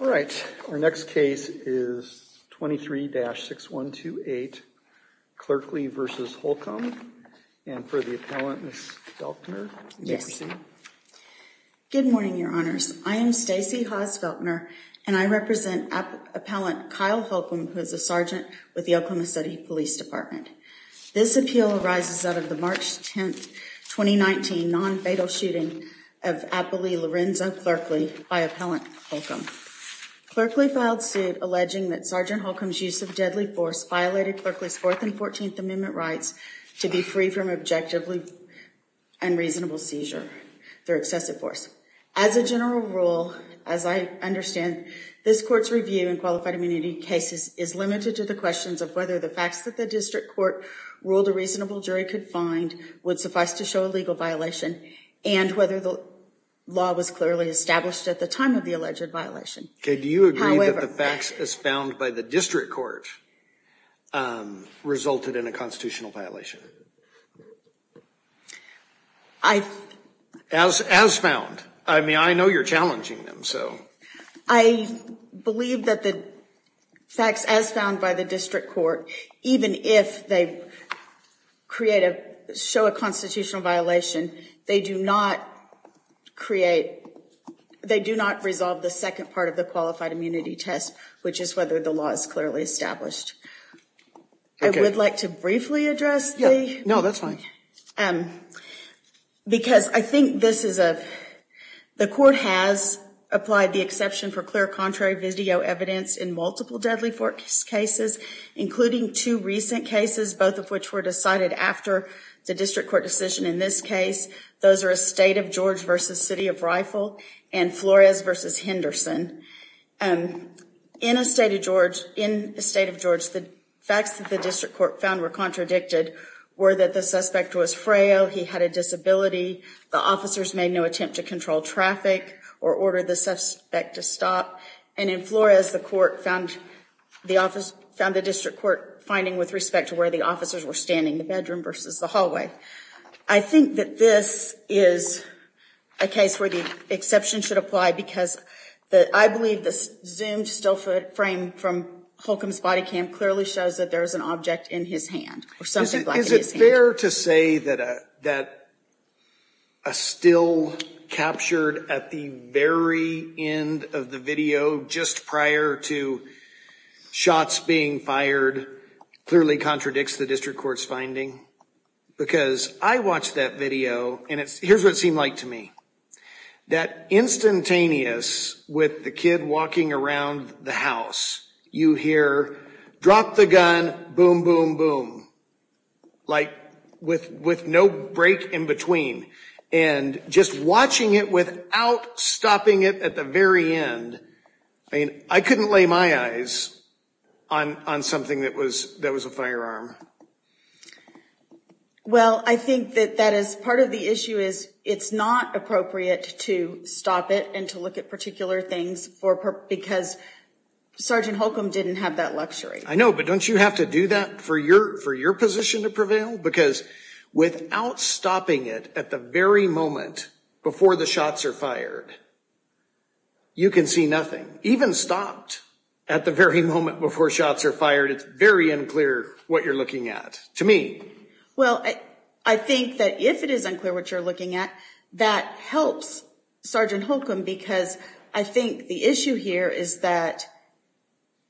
All right, our next case is 23-6128, Clerkley v. Holcomb, and for the appellant, Ms. Feltner. Good morning, your honors. I am Stacey Haas-Feltner, and I represent appellant Kyle Holcomb, who is a sergeant with the Oklahoma City Police Department. This appeal arises out of the Clerkley filed suit alleging that Sgt. Holcomb's use of deadly force violated Clerkley's Fourth and Fourteenth Amendment rights to be free from objective and reasonable seizure through excessive force. As a general rule, as I understand, this court's review in qualified immunity cases is limited to the questions of whether the facts that the district court ruled a reasonable jury could find would suffice to show a legal violation, and whether the law was clearly established at the time of the alleged violation. Okay, do you agree that the facts as found by the district court resulted in a constitutional violation? As found. I mean, I know you're challenging them, so. I believe that the facts as found by the district court, even if they create a, show a constitutional violation, they do not create, they do not resolve the second part of the qualified immunity test, which is whether the law is clearly established. I would like to briefly address the. No, that's fine. Because I think this is a, the court has applied the exception for clear contrary video evidence in multiple deadly force cases, including two recent cases, both of which were decided after the district court decision in this case. Those are a state of George versus city of rifle and Flores versus Henderson. In a state of George, in the state of George, the facts that the district court found were contradicted were that the suspect was frail. He had a disability. The officers made no attempt to control traffic or order the suspect to stop. And in Flores, the court found the office, found the district court finding with respect to where the officers were standing in the bedroom versus the hallway. I think that this is a case where the exception should apply because the, I believe the zoomed still foot frame from Holcomb's body cam clearly shows that there is an object in his hand or something. Is it fair to say that a, that a still captured at the very end of the video, just prior to shots being fired, clearly contradicts the district court's finding? Because I watched that video and it's, here's what it seemed like to me. That instantaneous with the kid walking around the house, you hear drop the gun, boom, boom, boom. Like with, with no break in between and just watching it without stopping it at the very end. I mean, I couldn't lay my eyes on, on something that was, that was a firearm. Well I think that that is part of the issue is it's not appropriate to stop it and to look at particular things for, because Sergeant Holcomb didn't have that luxury. I know, but don't you have to do that for your, for your position to prevail? Because without stopping it at the very moment before the shots are fired, you can see nothing. And even stopped at the very moment before shots are fired, it's very unclear what you're looking at to me. Well, I think that if it is unclear what you're looking at, that helps Sergeant Holcomb because I think the issue here is that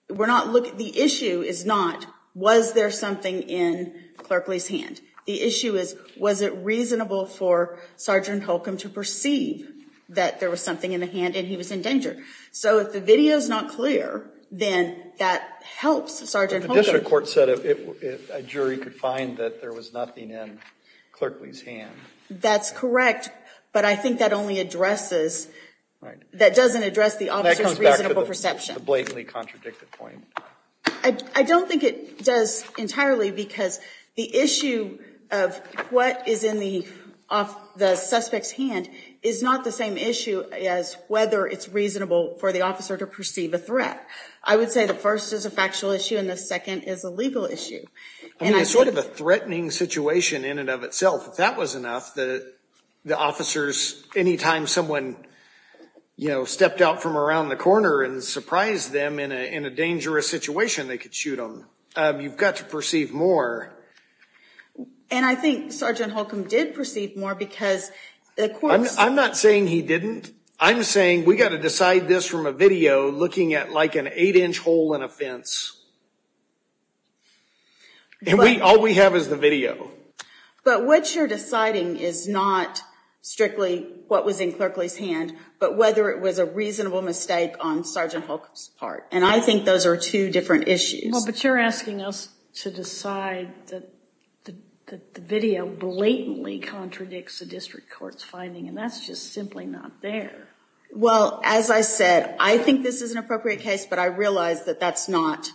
we're not looking, the issue is not, was there something in Clerkley's hand? The issue is, was it reasonable for Sergeant Holcomb to perceive that there was nothing in the hand and he was in danger? So if the video's not clear, then that helps Sergeant Holcomb. The district court said if a jury could find that there was nothing in Clerkley's hand. That's correct, but I think that only addresses, that doesn't address the officer's reasonable perception. That comes back to the blatantly contradicted point. I don't think it does entirely because the issue of what is in the, off the suspect's hand is not the same issue as whether it's reasonable for the officer to perceive a threat. I would say the first is a factual issue and the second is a legal issue. I mean, it's sort of a threatening situation in and of itself. If that was enough, the officers, anytime someone, you know, stepped out from around the corner and surprised them in a dangerous situation, they could shoot them. You've got to perceive more. And I think Sergeant Holcomb did perceive more because the courts... I'm not saying he didn't. I'm saying we've got to decide this from a video looking at like an eight-inch hole in a fence and we, all we have is the video. But what you're deciding is not strictly what was in Clerkley's hand, but whether it was a reasonable mistake on Sergeant Holcomb's part. And I think those are two different issues. Well, but you're asking us to decide that the video blatantly contradicts the district court's finding and that's just simply not there. Well, as I said, I think this is an appropriate case, but I realize that that's not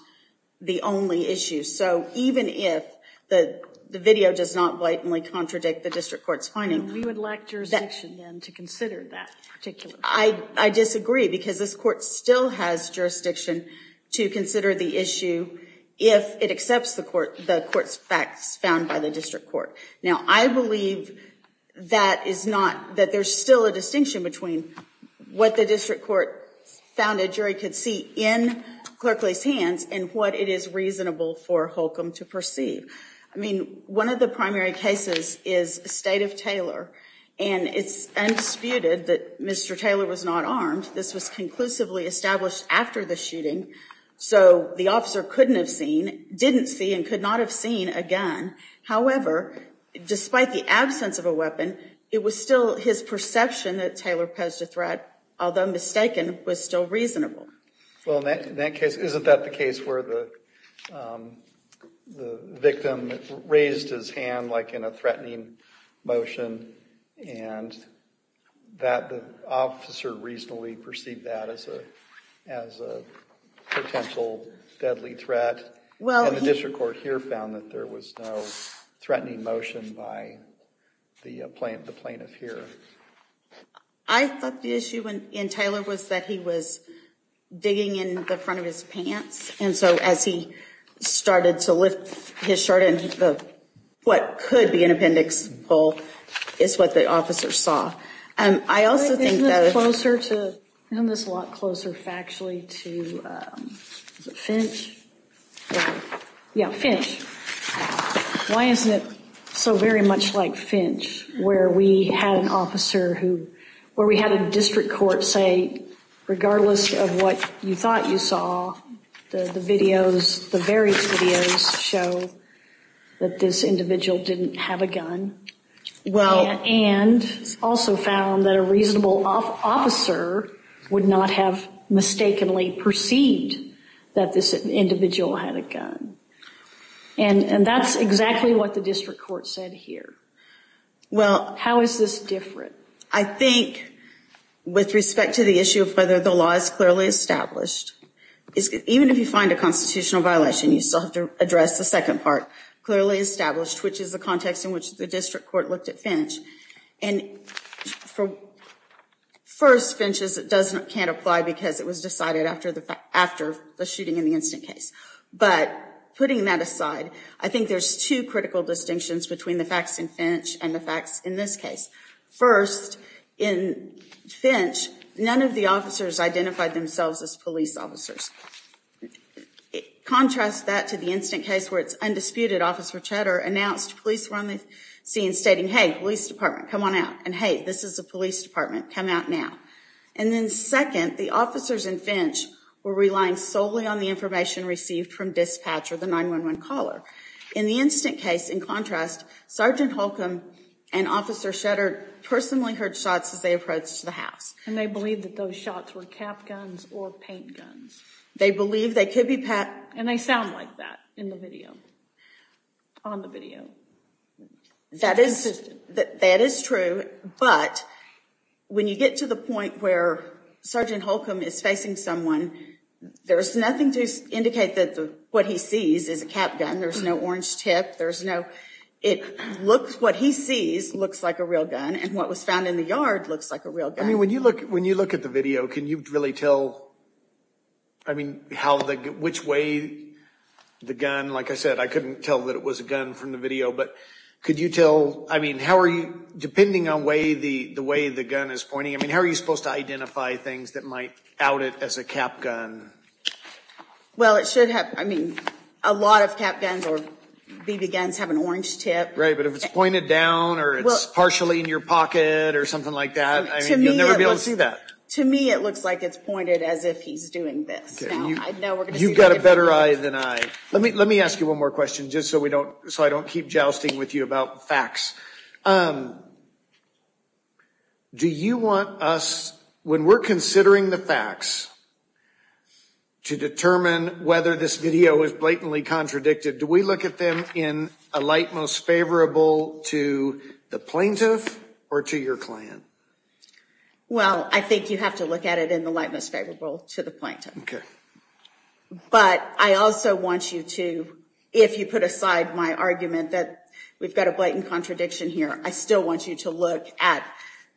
the only issue. So even if the video does not blatantly contradict the district court's finding... And we would lack jurisdiction then to consider that particular... I disagree because this court still has jurisdiction to consider the issue if it accepts the court's facts found by the district court. Now I believe that there's still a distinction between what the district court found a jury could see in Clerkley's hands and what it is reasonable for Holcomb to perceive. I mean, one of the primary cases is the state of Taylor and it's undisputed that Mr. Taylor was not armed. This was conclusively established after the shooting. So the officer couldn't have seen, didn't see, and could not have seen a gun. However, despite the absence of a weapon, it was still his perception that Taylor posed a threat, although mistaken, was still reasonable. Well, in that case, isn't that the case where the victim raised his hand like in a threatening motion and that the officer reasonably perceived that as a potential deadly threat? And the district court here found that there was no threatening motion by the plaintiff here. I thought the issue in Taylor was that he was digging in the front of his pants. And so as he started to lift his shirt, what could be an appendix pull is what the officer saw. I also think that... Isn't this a lot closer factually to Finch? Yeah, Finch. Why isn't it so very much like Finch, where we had an officer who, where we had a district court say, regardless of what you thought you saw, the videos, the various videos show that this individual didn't have a gun. And also found that a reasonable officer would not have mistakenly perceived that this individual had a gun. And that's exactly what the district court said here. Well... How is this different? I think, with respect to the issue of whether the law is clearly established, even if you find a constitutional violation, you still have to address the second part, clearly established, which is the context in which the district court looked at Finch. And for first, Finch, it can't apply because it was decided after the shooting in the instant case. But putting that aside, I think there's two critical distinctions between the facts in Finch and the facts in this case. First, in Finch, none of the officers identified themselves as police officers. Contrast that to the instant case where it's undisputed Officer Cheddar announced police were on the scene stating, hey, police department, come on out. And hey, this is a police department, come out now. And then second, the officers in Finch were relying solely on the information received from dispatch or the 911 caller. In the instant case, in contrast, Sergeant Holcomb and Officer Cheddar personally heard shots as they approached the house. And they believed that those shots were cap guns or paint guns. They believed they could be... And they sound like that in the video, on the video. That is true. But when you get to the point where Sergeant Holcomb is facing someone, there's nothing to indicate that what he sees is a cap gun. There's no orange tip. There's no... It looks... What he sees looks like a real gun. And what was found in the yard looks like a real gun. I mean, when you look... When you look at the video, can you really tell, I mean, how the... Which way the gun... But could you tell... I mean, how are you... Depending on the way the gun is pointing, I mean, how are you supposed to identify things that might out it as a cap gun? Well, it should have... I mean, a lot of cap guns or BB guns have an orange tip. Right. But if it's pointed down or it's partially in your pocket or something like that, I mean, you'll never be able to see that. To me, it looks like it's pointed as if he's doing this. Now we're going to see... You've got a better eye than I. Let me ask you one more question just so I don't keep jousting with you about facts. Do you want us... When we're considering the facts to determine whether this video is blatantly contradicted, do we look at them in a light most favorable to the plaintiff or to your client? Well, I think you have to look at it in the light most favorable to the plaintiff. Okay. But I also want you to... If you put aside my argument that we've got a blatant contradiction here, I still want you to look at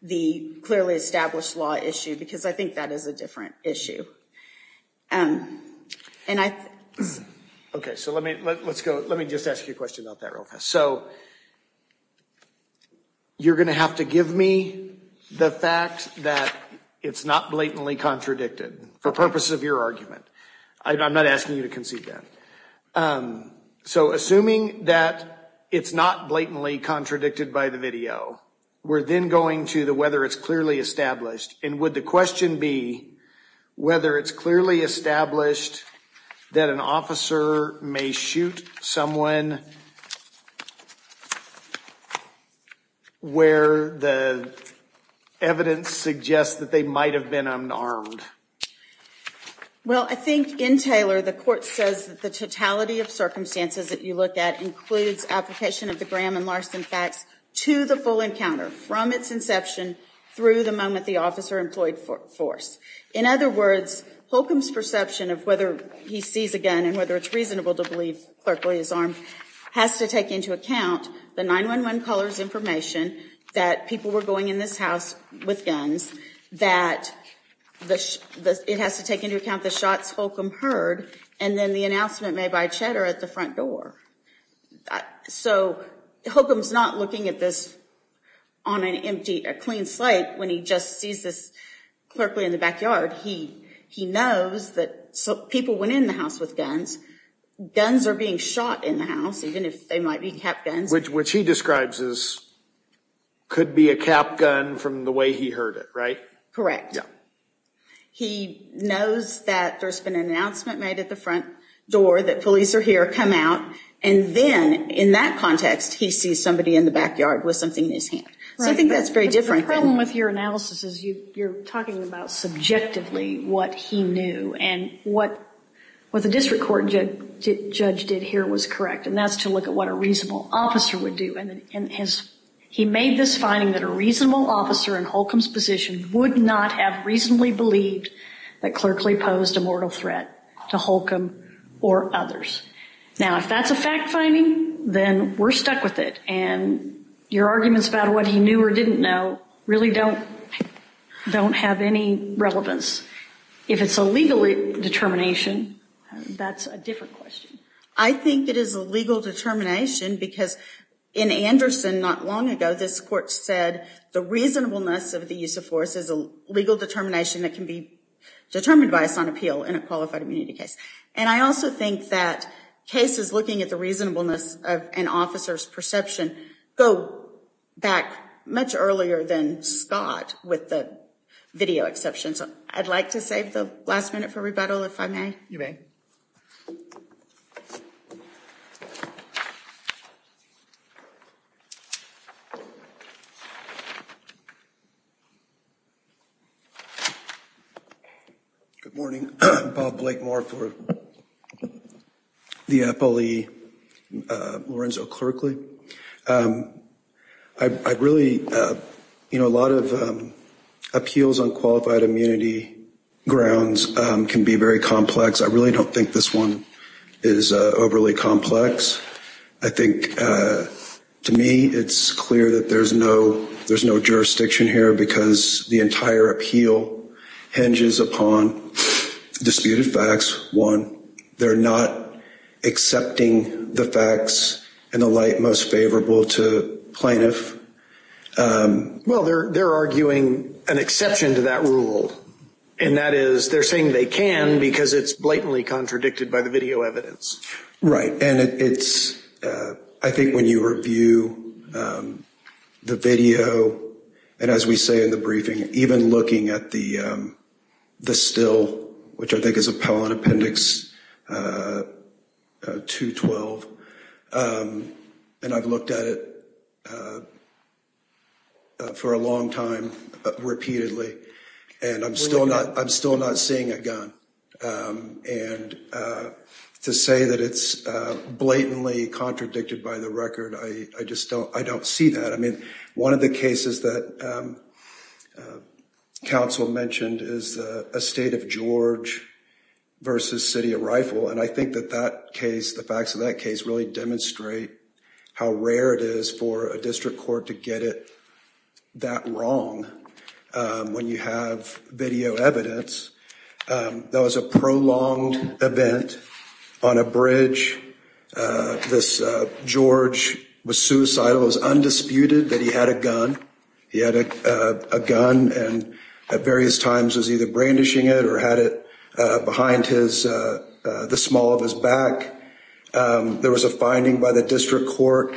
the clearly established law issue because I think that is a different issue. Okay. So let me just ask you a question about that real fast. So you're going to have to give me the fact that it's not blatantly contradicted for purpose of your argument. I'm not asking you to concede that. So assuming that it's not blatantly contradicted by the video, we're then going to the whether it's clearly established. And would the question be whether it's clearly established that an officer may shoot someone where the evidence suggests that they might have been unarmed? Well, I think in Taylor, the court says that the totality of circumstances that you look at includes application of the Graham and Larson facts to the full encounter from its inception through the moment the officer employed force. In other words, Holcomb's perception of whether he sees a gun and whether it's reasonable to believe clerkly is armed has to take into account the 911 caller's information that people were going in this house with guns, that it has to take into account the shots Holcomb heard and then the announcement made by Cheddar at the front door. So Holcomb's not looking at this on an empty, a clean slate when he just sees this clerkly in the backyard. He knows that people went in the house with guns. Guns are being shot in the house, even if they might be cap guns. Which he describes as could be a cap gun from the way he heard it, right? Correct. Yeah. He knows that there's been an announcement made at the front door that police are here, come out, and then in that context he sees somebody in the backyard with something in his hand. So I think that's very different. My problem with your analysis is you're talking about subjectively what he knew and what the district court judge did here was correct, and that's to look at what a reasonable officer would do. He made this finding that a reasonable officer in Holcomb's position would not have reasonably believed that clerkly posed a mortal threat to Holcomb or others. Now if that's a fact-finding, then we're stuck with it. And your arguments about what he knew or didn't know really don't have any relevance. If it's a legal determination, that's a different question. I think it is a legal determination because in Anderson not long ago this court said the reasonableness of the use of force is a legal determination that can be determined by a sign of appeal in a qualified immunity case. And I also think that cases looking at the reasonableness of an officer's perception go back much earlier than Scott with the video exceptions. I'd like to save the last minute for rebuttal if I may. You may. Good morning. Bob Blakemore for the FLE Lorenzo Clerkly. I really, you know, a lot of appeals on qualified immunity grounds can be very complex. I really don't think this one is overly complex. I think to me it's clear that there's no jurisdiction here because the entire appeal hinges upon disputed facts. One, they're not accepting the facts in the light most favorable to plaintiff. Well, they're arguing an exception to that rule, and that is they're saying they can because it's blatantly contradicted by the video evidence. And I think when you review the video, and as we say in the briefing, even looking at the still, which I think is appellant appendix 212, and I've looked at it for a long time repeatedly, and I'm still not seeing a gun. And to say that it's blatantly contradicted by the record, I just don't see that. I mean, one of the cases that counsel mentioned is a state of George versus city of Rifle, and I think that that case, the facts of that case, really demonstrate how rare it is for a district court to get it that wrong when you have video evidence. That was a prolonged event on a bridge. George was suicidal. It was undisputed that he had a gun. He had a gun and at various times was either brandishing it or had it behind the small of his back. There was a finding by the district court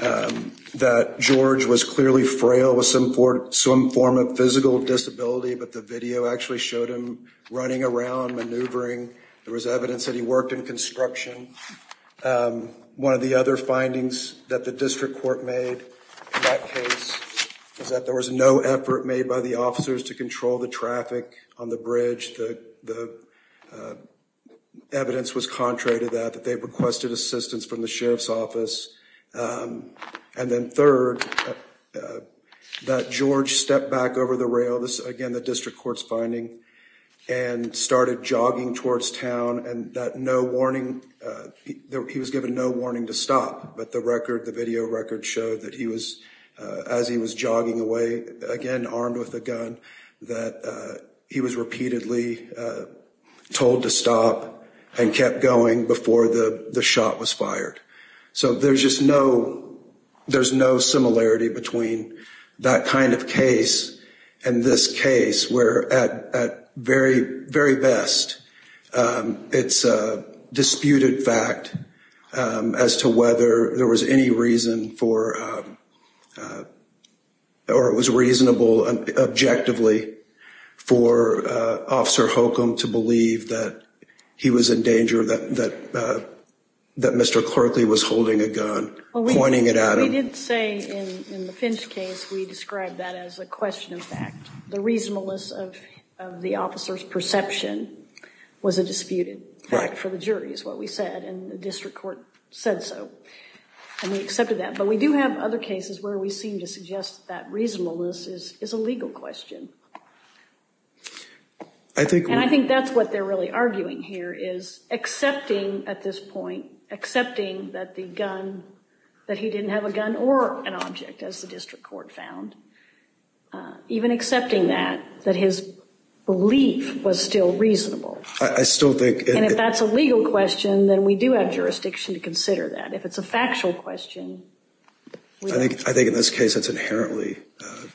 that George was clearly frail with some form of physical disability, but the video actually showed him running around, maneuvering. There was evidence that he worked in construction. One of the other findings that the district court made in that case was that there was no effort made by the officers to control the traffic on the bridge. The evidence was contrary to that, that they requested assistance from the sheriff's office. And then third, that George stepped back over the rail, again, the district court's finding, and started jogging towards town, and he was given no warning to stop, but the video record showed that as he was jogging away, again, armed with a gun, that he was repeatedly told to stop and kept going before the shot was fired. So there's just no, there's no similarity between that kind of case and this case, where at very, very best, it's a disputed fact as to whether there was any reason for, or it was reasonable and objectively for Officer Holcomb to believe that he was in danger, that Mr. Clarkley was holding a gun, pointing it at him. We did say in the Finch case, we described that as a question of fact. The reasonableness of the officer's perception was a disputed fact for the jury, is what we said, and the district court said so, and we accepted that. But we do have other cases where we seem to suggest that reasonableness is a legal question. And I think that's what they're really arguing here, is accepting at this point, accepting that the gun, that he didn't have a gun or an object, as the district court found, even accepting that, that his belief was still reasonable. And if that's a legal question, then we do have jurisdiction to consider that. If it's a factual question. I think in this case it's inherently,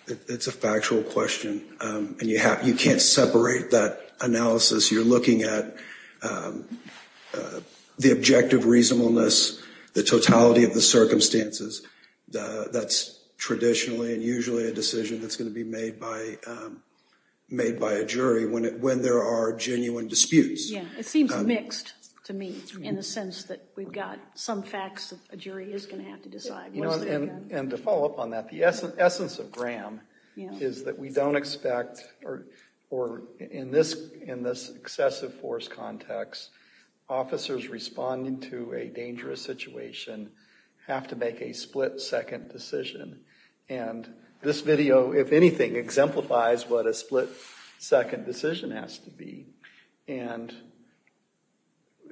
it's a factual question, and you can't separate that analysis. You're looking at the objective reasonableness, the totality of the circumstances. That's traditionally and usually a decision that's going to be made by a jury when there are genuine disputes. Yeah, it seems mixed to me, in the sense that we've got some facts that a jury is going to have to decide. And to follow up on that, the essence of Graham is that we don't expect, or in this excessive force context, officers responding to a dangerous situation have to make a split-second decision. And this video, if anything, exemplifies what a split-second decision has to be. And,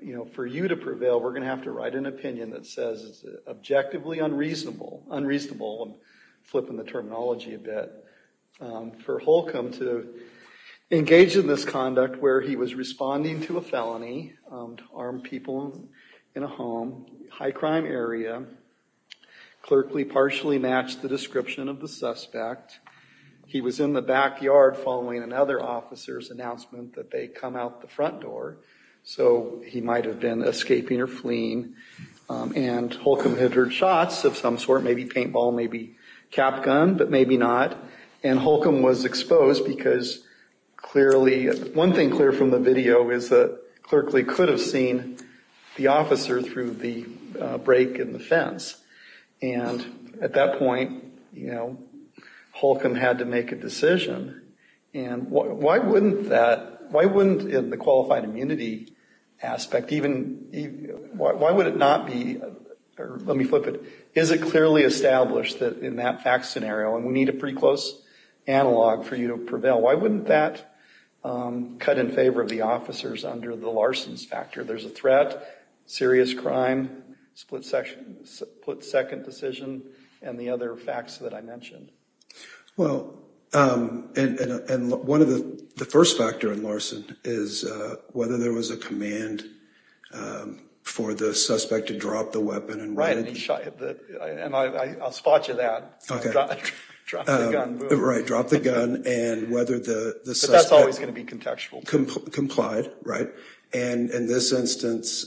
you know, for you to prevail, we're going to have to write an opinion that says it's objectively unreasonable. Unreasonable, I'm flipping the terminology a bit. For Holcomb to engage in this conduct where he was responding to a felony, armed people in a home, high-crime area, clerkly partially matched the description of the suspect, he was in the backyard following another officer's announcement that they come out the front door, so he might have been escaping or fleeing, and Holcomb had heard shots of some sort, maybe paintball, maybe cap gun, but maybe not. And Holcomb was exposed because clearly, one thing clear from the video is that clerkly could have seen the officer through the break in the fence. And at that point, you know, Holcomb had to make a decision, and why wouldn't that, why wouldn't in the qualified immunity aspect, even, why would it not be, or let me flip it, is it clearly established that in that fact scenario, and we need a pretty close analog for you to prevail, why wouldn't that cut in favor of the officers under the larcenous factor? There's a threat, serious crime, split-second decision, and the other facts that I mentioned. Well, and one of the, the first factor in larceny is whether there was a command for the suspect to drop the weapon. Right, and he shot, and I'll spot you that. Drop the gun. Right, drop the gun, and whether the suspect. But that's always going to be contextual. Complied, right, and in this instance,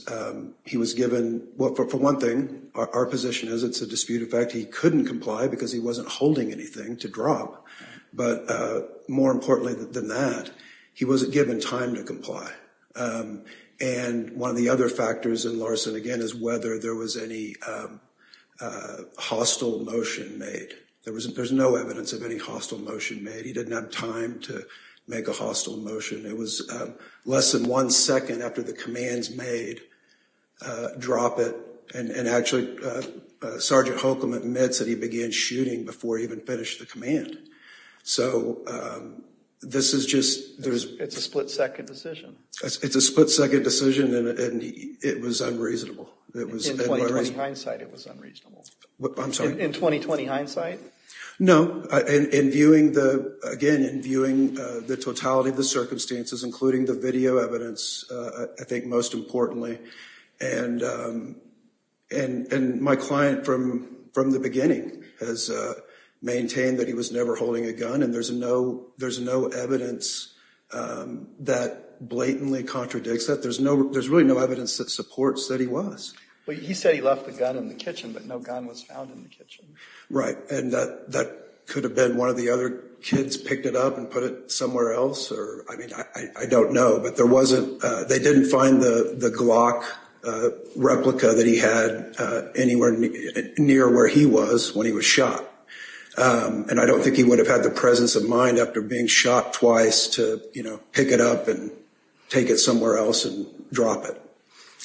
he was given, well, for one thing, our position is it's a dispute of fact, he couldn't comply because he wasn't holding anything to drop. But more importantly than that, he wasn't given time to comply. And one of the other factors in larceny, again, is whether there was any hostile motion made. There was, there's no evidence of any hostile motion made. He didn't have time to make a hostile motion. It was less than one second after the command's made, drop it, and actually Sergeant Holcomb admits that he began shooting before he even finished the command. So this is just, there's. It's a split-second decision. It's a split-second decision, and it was unreasonable. In 20-20 hindsight, it was unreasonable. I'm sorry. In 20-20 hindsight? No. In viewing the, again, in viewing the totality of the circumstances, including the video evidence, I think most importantly, and my client from the beginning has maintained that he was never holding a gun, and there's no evidence that blatantly contradicts that. There's really no evidence that supports that he was. Well, he said he left the gun in the kitchen, but no gun was found in the kitchen. Right. And that could have been one of the other kids picked it up and put it somewhere else, or, I mean, I don't know. But there wasn't, they didn't find the Glock replica that he had anywhere near where he was when he was shot. And I don't think he would have had the presence of mind after being shot twice to, you know, pick it up and take it somewhere else and drop it.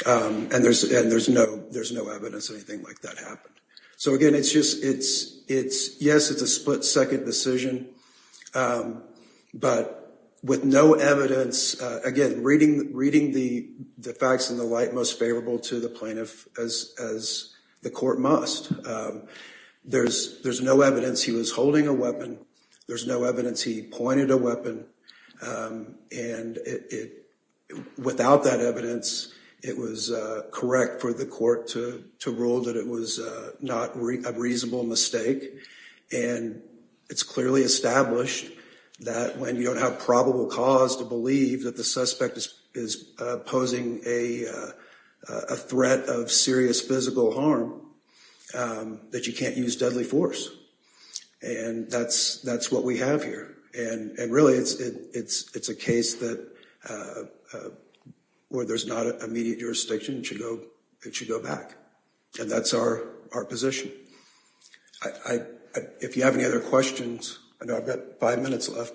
And there's no evidence anything like that happened. So, again, it's just, it's, it's, yes, it's a split second decision. But with no evidence, again, reading, reading the facts in the light most favorable to the plaintiff as, as the court must. There's, there's no evidence he was holding a weapon. There's no evidence he pointed a weapon. And without that evidence, it was correct for the court to rule that it was not a reasonable mistake. And it's clearly established that when you don't have probable cause to believe that the suspect is posing a threat of serious physical harm, that you can't use deadly force. And that's, that's what we have here. And, and really it's, it's, it's a case that where there's not an immediate jurisdiction to go, it should go back. And that's our, our position. I, if you have any other questions, I know I've got five minutes left.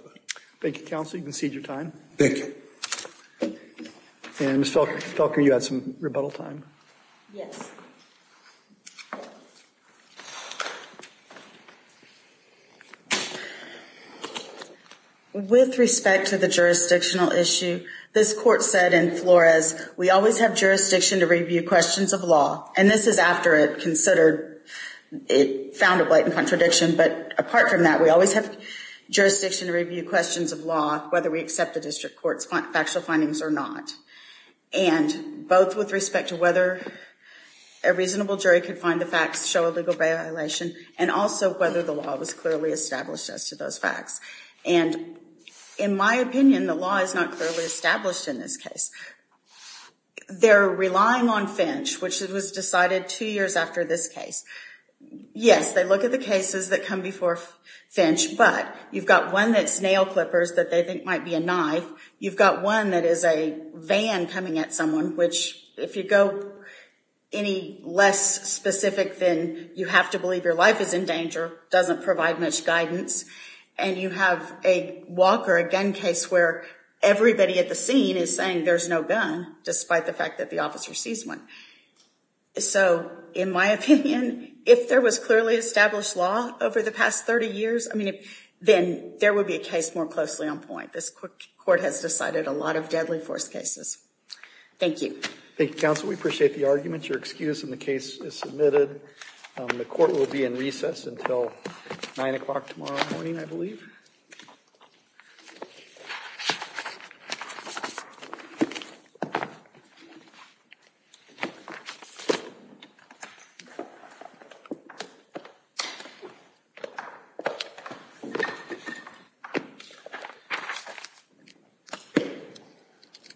Thank you, counsel. You can cede your time. Thank you. And Ms. Felker, you had some rebuttal time. Yes. With respect to the jurisdictional issue, this court said in Flores, we always have jurisdiction to review questions of law. And this is after it considered, it found a blatant contradiction. But apart from that, we always have jurisdiction to review questions of law, whether we accept the district court's factual findings or not. And both with respect to whether a reasonable jury could find the facts, show a legal violation, and also whether the law was clearly established as to those facts. And in my opinion, the law is not clearly established in this case. They're relying on Finch, which was decided two years after this case. Yes, they look at the cases that come before Finch, but you've got one that's nail clippers that they think might be a knife. You've got one that is a van coming at someone, which if you go any less specific than you have to believe your life is in danger, doesn't provide much guidance. And you have a walker, a gun case, where everybody at the scene is saying there's no gun, despite the fact that the officer sees one. So in my opinion, if there was clearly established law over the past 30 years, I mean, then there would be a case more closely on point. This court has decided a lot of deadly force cases. Thank you. Thank you, counsel. We appreciate the argument. Your excuse in the case is submitted. The court will be in recess until 9 o'clock tomorrow morning, I believe. Thank you.